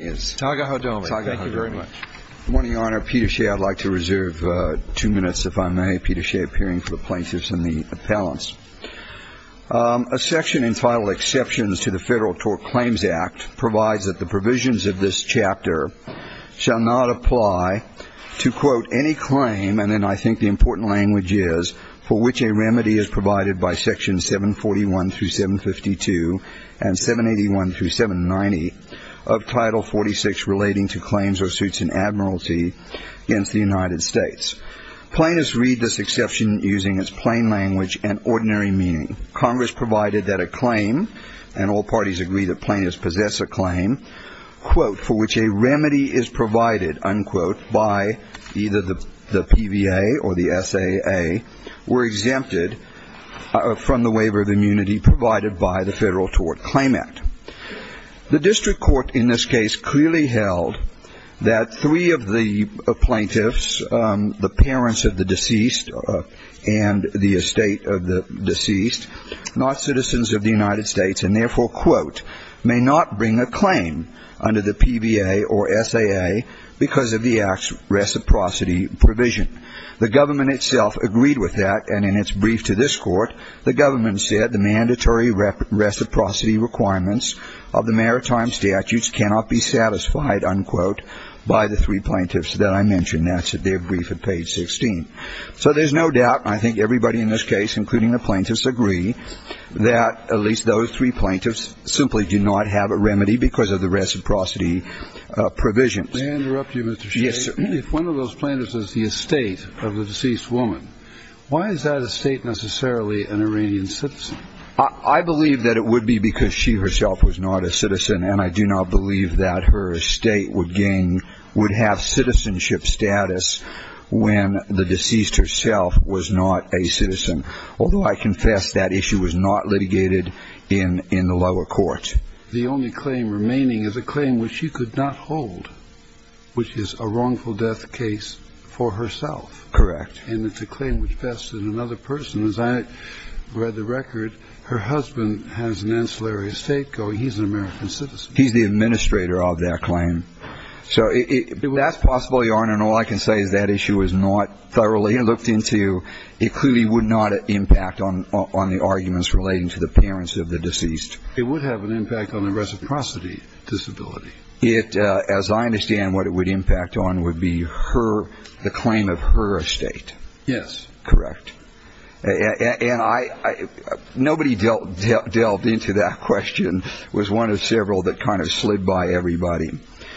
Taga Hodomi. Taga Hodomi. Thank you very much. Good morning, Your Honor. Peter Shea. I'd like to reserve two minutes, if I may. Peter Shea, appearing for the plaintiffs and the appellants. A section entitled Exceptions to the Federal Tort Claims Act provides that the provisions of this chapter shall not apply to, quote, Article 46 relating to claims or suits in admiralty against the United States. Plaintiffs read this exception using its plain language and ordinary meaning. Congress provided that a claim, and all parties agree that plaintiffs possess a claim, quote, for which a remedy is provided, unquote, by either the PVA or the SAA, were exempted from the waiver of immunity provided by the Federal Tort Claim Act. The district court in this case clearly held that three of the plaintiffs, the parents of the deceased and the estate of the deceased, not citizens of the United States, and therefore, quote, may not bring a claim under the PVA or SAA because of the Act's reciprocity provision. The government itself agreed with that, and in its brief to this court, the government said the mandatory reciprocity requirements of the maritime statutes cannot be satisfied, unquote, by the three plaintiffs that I mentioned. That's their brief at page 16. So there's no doubt, and I think everybody in this case, including the plaintiffs, agree that at least those three plaintiffs simply do not have a remedy because of the reciprocity provision. May I interrupt you, Mr. Shea? Yes, sir. If one of those plaintiffs is the estate of the deceased woman, why is that estate necessarily an Iranian citizen? I believe that it would be because she herself was not a citizen, and I do not believe that her estate would have citizenship status when the deceased herself was not a citizen, although I confess that issue was not litigated in the lower court. But the only claim remaining is a claim which she could not hold, which is a wrongful death case for herself. Correct. And it's a claim which vested another person. As I read the record, her husband has an ancillary estate going. He's an American citizen. He's the administrator of that claim. So that's possible, Your Honor, and all I can say is that issue was not thoroughly looked into. It clearly would not impact on the arguments relating to the parents of the deceased. It would have an impact on the reciprocity disability. As I understand, what it would impact on would be the claim of her estate. Yes. Correct. And nobody delved into that question. It was one of several that kind of slid by everybody.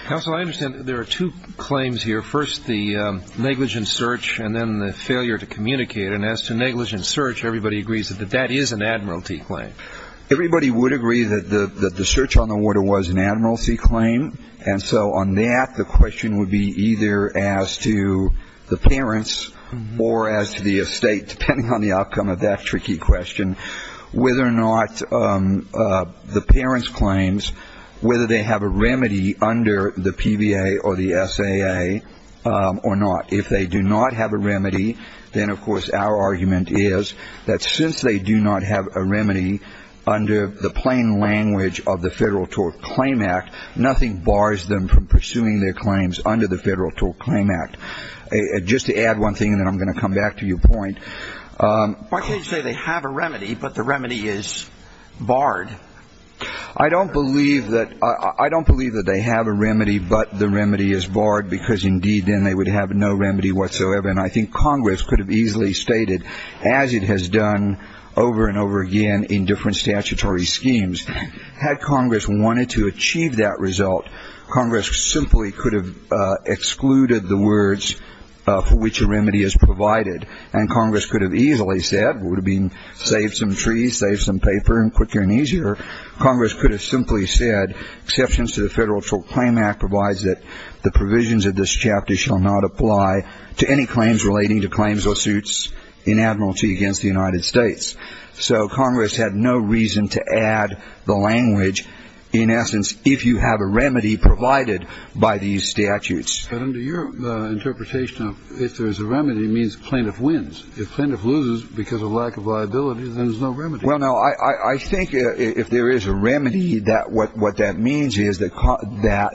Counsel, I understand that there are two claims here, first the negligent search and then the failure to communicate. And as to negligent search, everybody agrees that that is an admiralty claim. Everybody would agree that the search on the water was an admiralty claim. And so on that, the question would be either as to the parents or as to the estate, depending on the outcome of that tricky question, whether or not the parents' claims, whether they have a remedy under the PBA or the SAA or not. If they do not have a remedy, then, of course, our argument is that since they do not have a remedy under the plain language of the Federal Tort Claim Act, nothing bars them from pursuing their claims under the Federal Tort Claim Act. Just to add one thing, and then I'm going to come back to your point. Why can't you say they have a remedy but the remedy is barred? I don't believe that they have a remedy but the remedy is barred because, indeed, then they would have no remedy whatsoever. And I think Congress could have easily stated, as it has done over and over again in different statutory schemes, had Congress wanted to achieve that result, Congress simply could have excluded the words for which a remedy is provided. And Congress could have easily said, it would have been save some trees, save some paper, quicker and easier. Congress could have simply said exceptions to the Federal Tort Claim Act provides that the provisions of this chapter shall not apply to any claims relating to claims or suits in admiralty against the United States. So Congress had no reason to add the language, in essence, if you have a remedy provided by these statutes. But under your interpretation, if there is a remedy, it means the plaintiff wins. If the plaintiff loses because of lack of liability, then there's no remedy. Well, no, I think if there is a remedy, what that means is that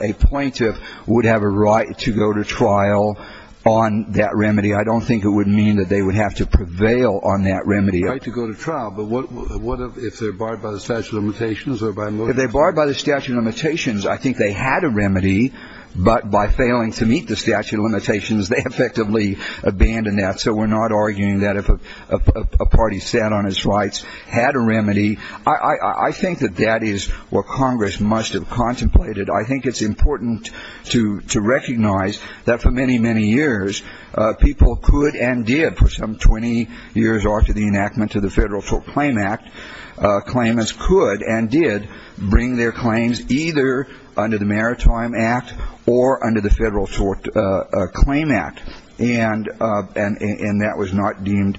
a plaintiff would have a right to go to trial on that remedy. I don't think it would mean that they would have to prevail on that remedy. A right to go to trial, but what if they're barred by the statute of limitations? If they're barred by the statute of limitations, I think they had a remedy. But by failing to meet the statute of limitations, they effectively abandoned that. So we're not arguing that if a party sat on its rights, had a remedy. I think that that is what Congress must have contemplated. I think it's important to recognize that for many, many years, people could and did, for some 20 years after the enactment of the Federal Tort Claim Act, could and did bring their claims either under the Maritime Act or under the Federal Tort Claim Act. And that was not deemed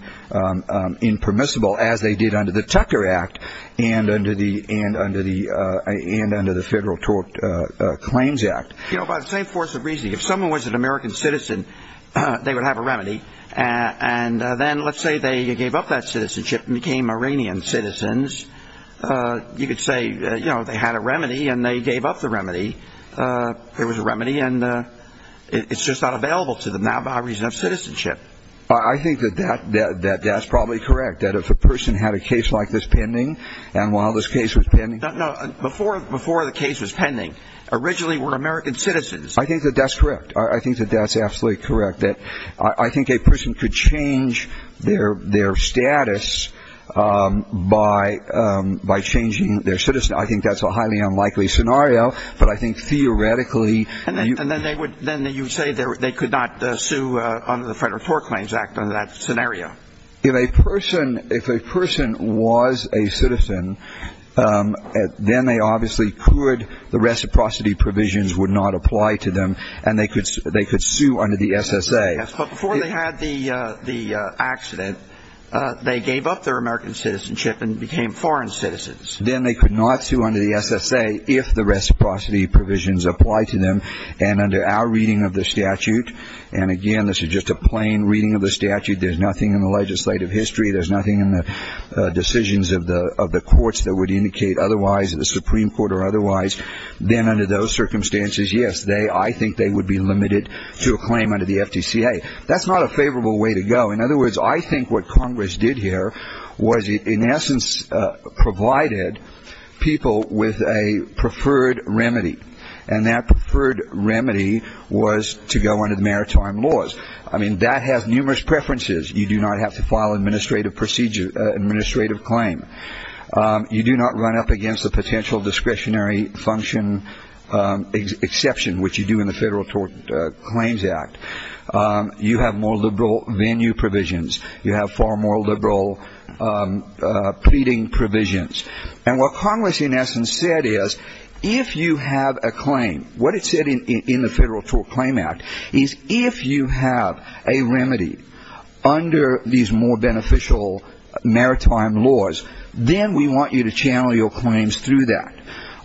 impermissible as they did under the Tucker Act and under the Federal Tort Claims Act. You know, by the same force of reasoning, if someone was an American citizen, they would have a remedy. And then let's say they gave up that citizenship and became Iranian citizens. You could say, you know, they had a remedy and they gave up the remedy. It was a remedy and it's just not available to them now by reason of citizenship. I think that that's probably correct, that if a person had a case like this pending, and while this case was pending. No, before the case was pending, originally were American citizens. I think that that's correct. I think that that's absolutely correct. I think a person could change their status by changing their citizenship. I think that's a highly unlikely scenario, but I think theoretically. And then you would say they could not sue under the Federal Tort Claims Act under that scenario. If a person was a citizen, then they obviously could. The reciprocity provisions would not apply to them and they could sue under the S.S.A. But before they had the accident, they gave up their American citizenship and became foreign citizens. Then they could not sue under the S.S.A. if the reciprocity provisions apply to them. And under our reading of the statute, and again, this is just a plain reading of the statute. There's nothing in the legislative history. There's nothing in the decisions of the courts that would indicate otherwise, the Supreme Court or otherwise. Then under those circumstances, yes, I think they would be limited to a claim under the FTCA. That's not a favorable way to go. In other words, I think what Congress did here was in essence provided people with a preferred remedy. And that preferred remedy was to go under the maritime laws. I mean, that has numerous preferences. You do not have to file an administrative claim. You do not run up against a potential discretionary function exception, which you do in the Federal Tort Claims Act. You have more liberal venue provisions. You have far more liberal pleading provisions. And what Congress in essence said is if you have a claim, what it said in the Federal Tort Claim Act is if you have a remedy under these more beneficial maritime laws, then we want you to channel your claims through that.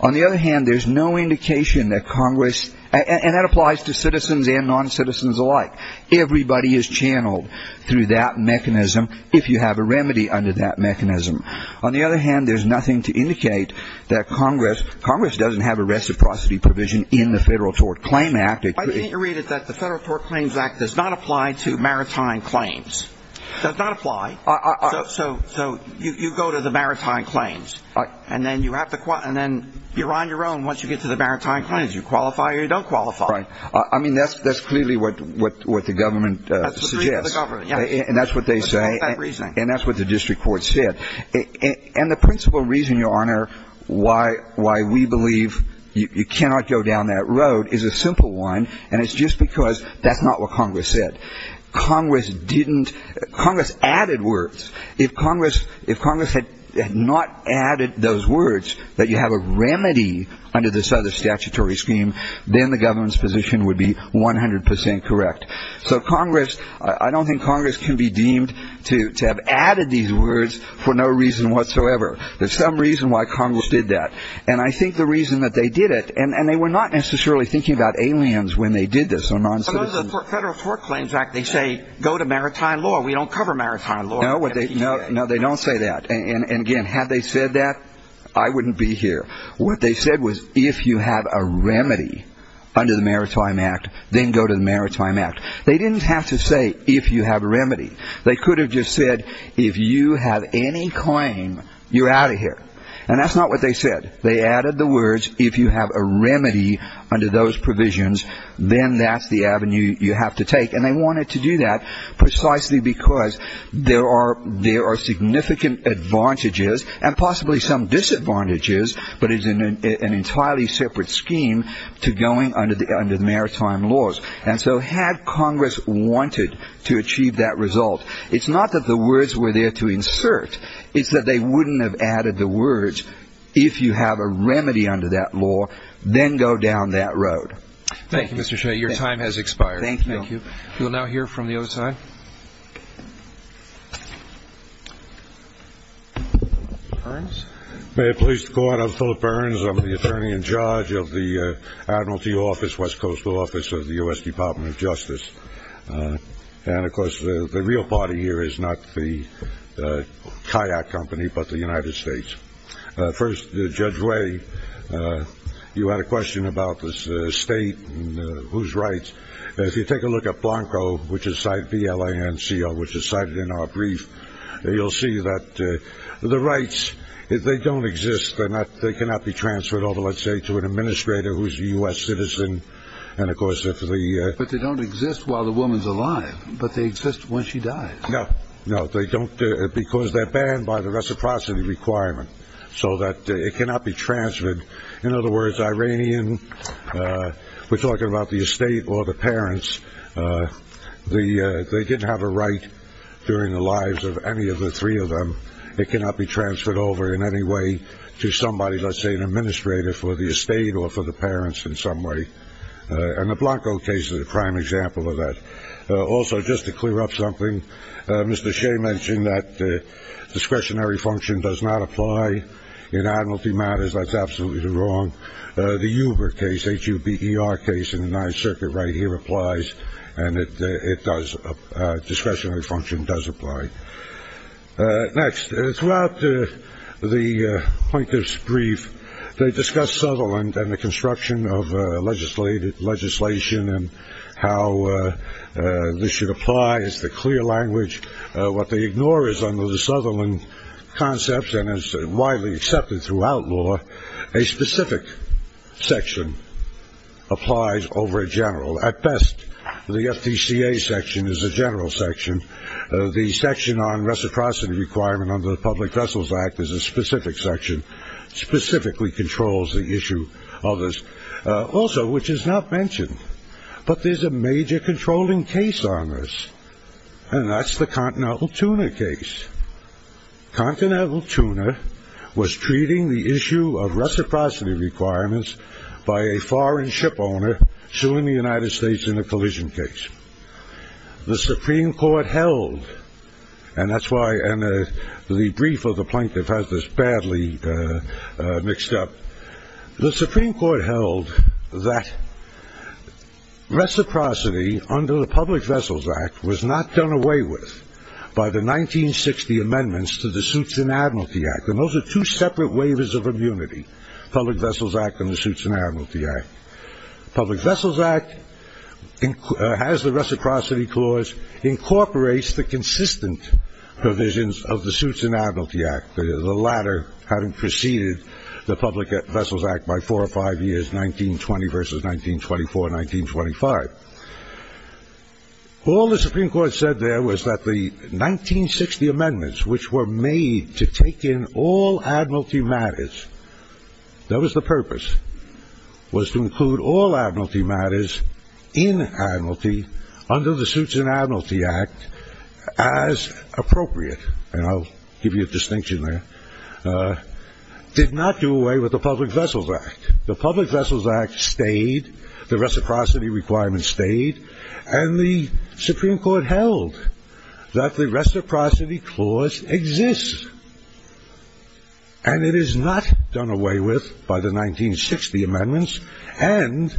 On the other hand, there's no indication that Congress ‑‑ and that applies to citizens and noncitizens alike. Everybody is channeled through that mechanism if you have a remedy under that mechanism. On the other hand, there's nothing to indicate that Congress ‑‑ Congress doesn't have a reciprocity provision in the Federal Tort Claim Act. I think you read it that the Federal Tort Claims Act does not apply to maritime claims. It does not apply. So you go to the maritime claims. And then you have to ‑‑ and then you're on your own once you get to the maritime claims. You qualify or you don't qualify. Right. I mean, that's clearly what the government suggests. That's what the government, yes. And that's what they say. That's part of that reasoning. And that's what the district court said. And the principal reason, Your Honor, why we believe you cannot go down that road is a simple one, and it's just because that's not what Congress said. Congress didn't ‑‑ Congress added words. If Congress had not added those words, that you have a remedy under this other statutory scheme, then the government's position would be 100 percent correct. So Congress ‑‑ I don't think Congress can be deemed to have added these words for no reason whatsoever. There's some reason why Congress did that. And I think the reason that they did it, and they were not necessarily thinking about aliens when they did this or non‑citizens. Under the Federal Tort Claims Act, they say go to maritime law. We don't cover maritime law. No, they don't say that. And, again, had they said that, I wouldn't be here. What they said was if you have a remedy under the Maritime Act, then go to the Maritime Act. They didn't have to say if you have a remedy. They could have just said if you have any claim, you're out of here. And that's not what they said. They added the words if you have a remedy under those provisions, then that's the avenue you have to take. And they wanted to do that precisely because there are significant advantages and possibly some disadvantages, but it's an entirely separate scheme to going under the maritime laws. And so had Congress wanted to achieve that result, it's not that the words were there to insert. It's that they wouldn't have added the words if you have a remedy under that law, then go down that road. Thank you, Mr. Shea. Your time has expired. Thank you. We'll now hear from the other side. May I please go on? I'm Philip Burns. I'm the attorney in charge of the Admiralty Office, West Coastal Office of the U.S. Department of Justice. And, of course, the real party here is not the kayak company but the United States. First, Judge Way, you had a question about the state and whose rights. If you take a look at Blanco, which is cited, B-L-A-N-C-O, which is cited in our brief, you'll see that the rights, they don't exist. They cannot be transferred over, let's say, to an administrator who's a U.S. citizen. But they don't exist while the woman's alive, but they exist when she dies. No, they don't because they're banned by the reciprocity requirement so that it cannot be transferred. In other words, Iranian, we're talking about the estate or the parents, they didn't have a right during the lives of any of the three of them. It cannot be transferred over in any way to somebody, let's say, an administrator for the estate or for the parents in some way. And the Blanco case is a prime example of that. Also, just to clear up something, Mr. Shea mentioned that discretionary function does not apply in admiralty matters. That's absolutely wrong. The Huber case, H-U-B-E-R case in the Ninth Circuit right here applies, and it does. Discretionary function does apply. Next, throughout the plaintiff's brief, they discuss Sutherland and the construction of legislation and how this should apply as the clear language. What they ignore is under the Sutherland concepts and is widely accepted throughout law, a specific section applies over a general. At best, the FDCA section is a general section. The section on reciprocity requirement under the Public Vessels Act is a specific section, specifically controls the issue of this. Also, which is not mentioned, but there's a major controlling case on this, and that's the Continental Tuna case. Continental Tuna was treating the issue of reciprocity requirements by a foreign ship owner suing the United States in a collision case. The Supreme Court held, and that's why the brief of the plaintiff has this badly mixed up. The Supreme Court held that reciprocity under the Public Vessels Act was not done away with by the 1960 amendments to the Suits and Admiralty Act, and those are two separate waivers of immunity, Public Vessels Act and the Suits and Admiralty Act. Public Vessels Act has the reciprocity clause, incorporates the consistent provisions of the Suits and Admiralty Act, the latter having preceded the Public Vessels Act by four or five years, 1920 versus 1924, 1925. All the Supreme Court said there was that the 1960 amendments, which were made to take in all Admiralty matters, that was the purpose, was to include all Admiralty matters in Admiralty under the Suits and Admiralty Act as appropriate. And I'll give you a distinction there. Did not do away with the Public Vessels Act. The Public Vessels Act stayed, the reciprocity requirements stayed, and the Supreme Court held that the reciprocity clause exists, and it is not done away with by the 1960 amendments, and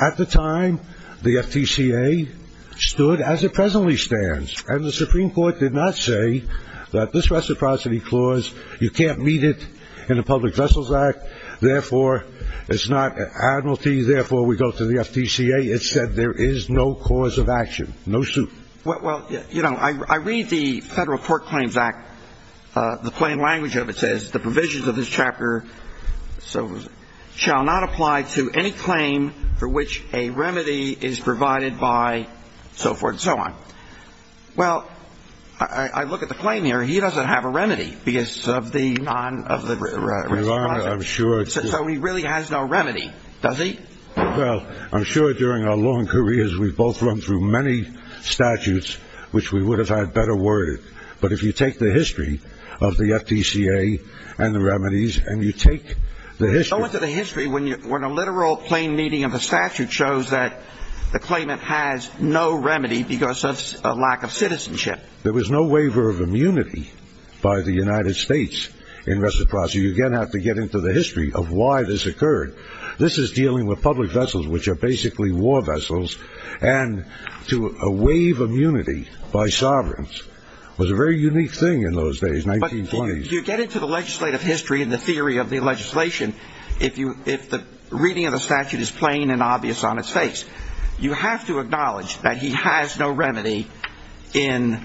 at the time the FTCA stood as it presently stands, and the Supreme Court did not say that this reciprocity clause, you can't meet it in the Public Vessels Act, therefore it's not Admiralty, therefore we go to the FTCA. It said there is no cause of action, no suit. Well, you know, I read the Federal Court Claims Act, the plain language of it says, the provisions of this chapter shall not apply to any claim for which a remedy is provided by so forth and so on. Well, I look at the claim here, he doesn't have a remedy, because of the non- So he really has no remedy, does he? Well, I'm sure during our long careers we've both run through many statutes which we would have had better worded, but if you take the history of the FTCA and the remedies, and you take the history Go into the history when a literal plain meaning of a statute shows that the claimant has no remedy because of a lack of citizenship. There was no waiver of immunity by the United States in reciprocity. You again have to get into the history of why this occurred. This is dealing with public vessels, which are basically war vessels, and to waive immunity by sovereigns was a very unique thing in those days, 1920s. If you get into the legislative history and the theory of the legislation, if the reading of the statute is plain and obvious on its face, you have to acknowledge that he has no remedy in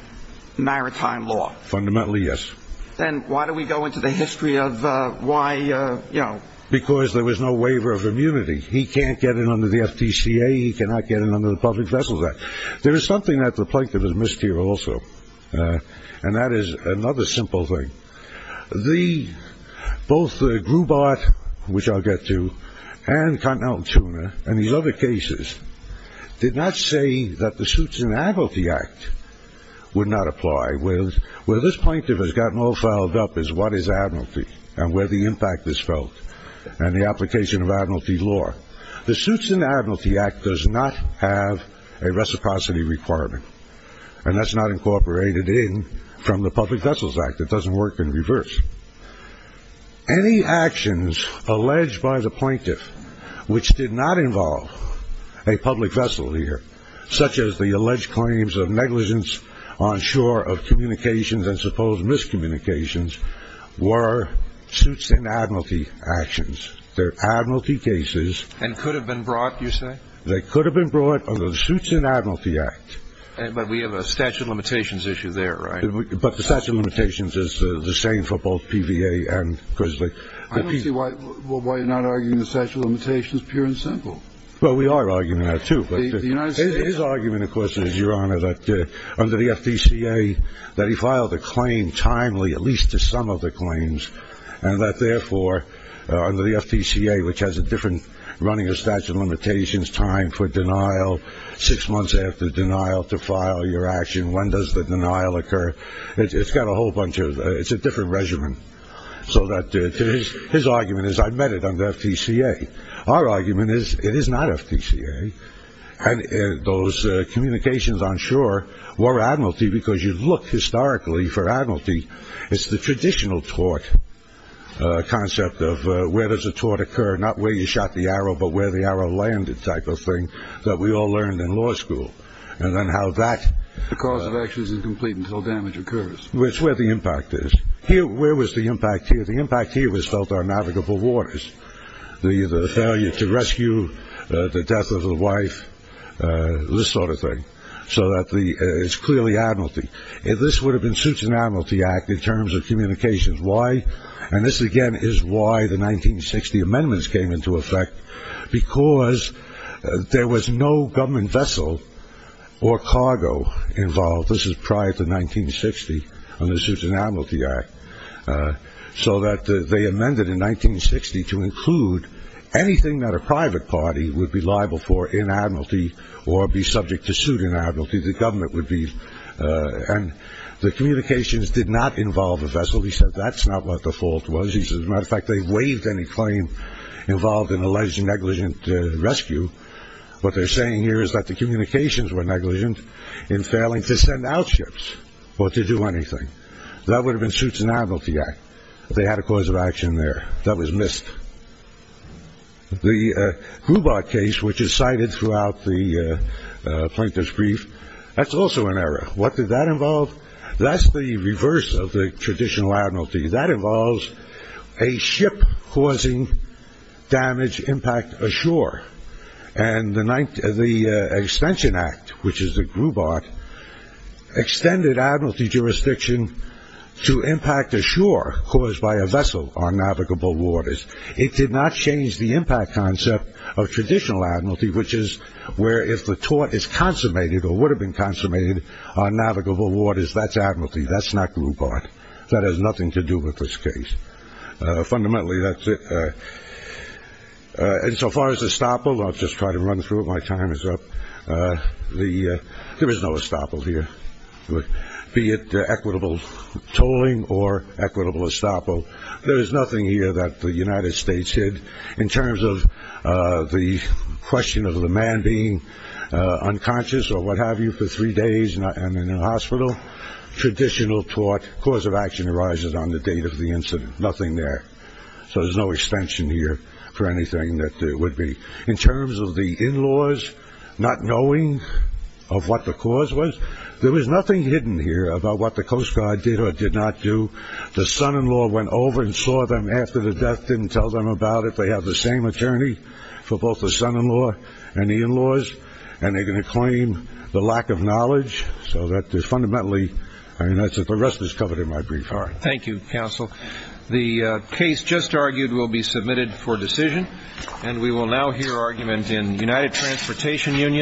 maritime law. Fundamentally, yes. Then why do we go into the history of why, you know? Because there was no waiver of immunity. He can't get in under the FTCA, he cannot get in under the public vessels act. There is something that the plaintiff has missed here also, and that is another simple thing. Both the Grubart, which I'll get to, and Continental Tuna, and these other cases, did not say that the suits in the Admiralty Act would not apply. Where this plaintiff has gotten all fouled up is what is Admiralty, and where the impact is felt, and the application of Admiralty law. The suits in the Admiralty Act does not have a reciprocity requirement, and that's not incorporated in from the public vessels act. It doesn't work in reverse. Any actions alleged by the plaintiff, which did not involve a public vessel here, such as the alleged claims of negligence on shore of communications and supposed miscommunications, were suits in the Admiralty actions. They're Admiralty cases. And could have been brought, you say? They could have been brought under the suits in the Admiralty Act. But we have a statute of limitations issue there, right? But the statute of limitations is the same for both PVA and Grizzly. I don't see why you're not arguing the statute of limitations, pure and simple. Well, we are arguing that, too. His argument, of course, is, Your Honor, that under the FTCA, that he filed a claim timely, at least to some of the claims, and that, therefore, under the FTCA, which has a different running of statute of limitations, time for denial, six months after denial to file your action, when does the denial occur? It's got a whole bunch of, it's a different regimen. So his argument is, I met it under FTCA. Our argument is, it is not FTCA. And those communications on shore were Admiralty, because you look historically for Admiralty, it's the traditional tort concept of where does a tort occur, not where you shot the arrow, but where the arrow landed type of thing that we all learned in law school. And then how that... The cause of action is incomplete until damage occurs. It's where the impact is. Where was the impact here? The impact here was felt on navigable waters. The failure to rescue, the death of a wife, this sort of thing. So it's clearly Admiralty. This would have been suits in Admiralty Act in terms of communications. Why? And this, again, is why the 1960 amendments came into effect. Because there was no government vessel or cargo involved. This is prior to 1960 on the suits in Admiralty Act. So that they amended in 1960 to include anything that a private party would be liable for in Admiralty or be subject to suit in Admiralty, the government would be. And the communications did not involve a vessel. He said that's not what the fault was. As a matter of fact, they waived any claim involved in alleged negligent rescue. What they're saying here is that the communications were negligent in failing to send out ships or to do anything. That would have been suits in Admiralty Act. They had a cause of action there. That was missed. The Grubart case, which is cited throughout the plaintiff's brief, that's also an error. What did that involve? That's the reverse of the traditional Admiralty. That involves a ship causing damage, impact ashore. And the extension act, which is the Grubart, extended Admiralty jurisdiction to impact ashore caused by a vessel on navigable waters. It did not change the impact concept of traditional Admiralty, which is where if the tort is consummated or would have been consummated on navigable waters, that's Admiralty. That's not Grubart. That has nothing to do with this case. Fundamentally, that's it. And so far as estoppel, I'll just try to run through it. My time is up. There is no estoppel here, be it equitable tolling or equitable estoppel. There is nothing here that the United States hid in terms of the question of the man being unconscious or what have you for three days and in a hospital. Traditional tort, cause of action arises on the date of the incident. Nothing there. So there's no extension here for anything that there would be. In terms of the in-laws not knowing of what the cause was, there was nothing hidden here about what the Coast Guard did or did not do. The son-in-law went over and saw them after the death, didn't tell them about it. They have the same attorney for both the son-in-law and the in-laws, and they're going to claim the lack of knowledge. So that is fundamentally, I mean, the rest is covered in my brief. Thank you, Counsel. The case just argued will be submitted for decision, and we will now hear argument in United Transportation Union.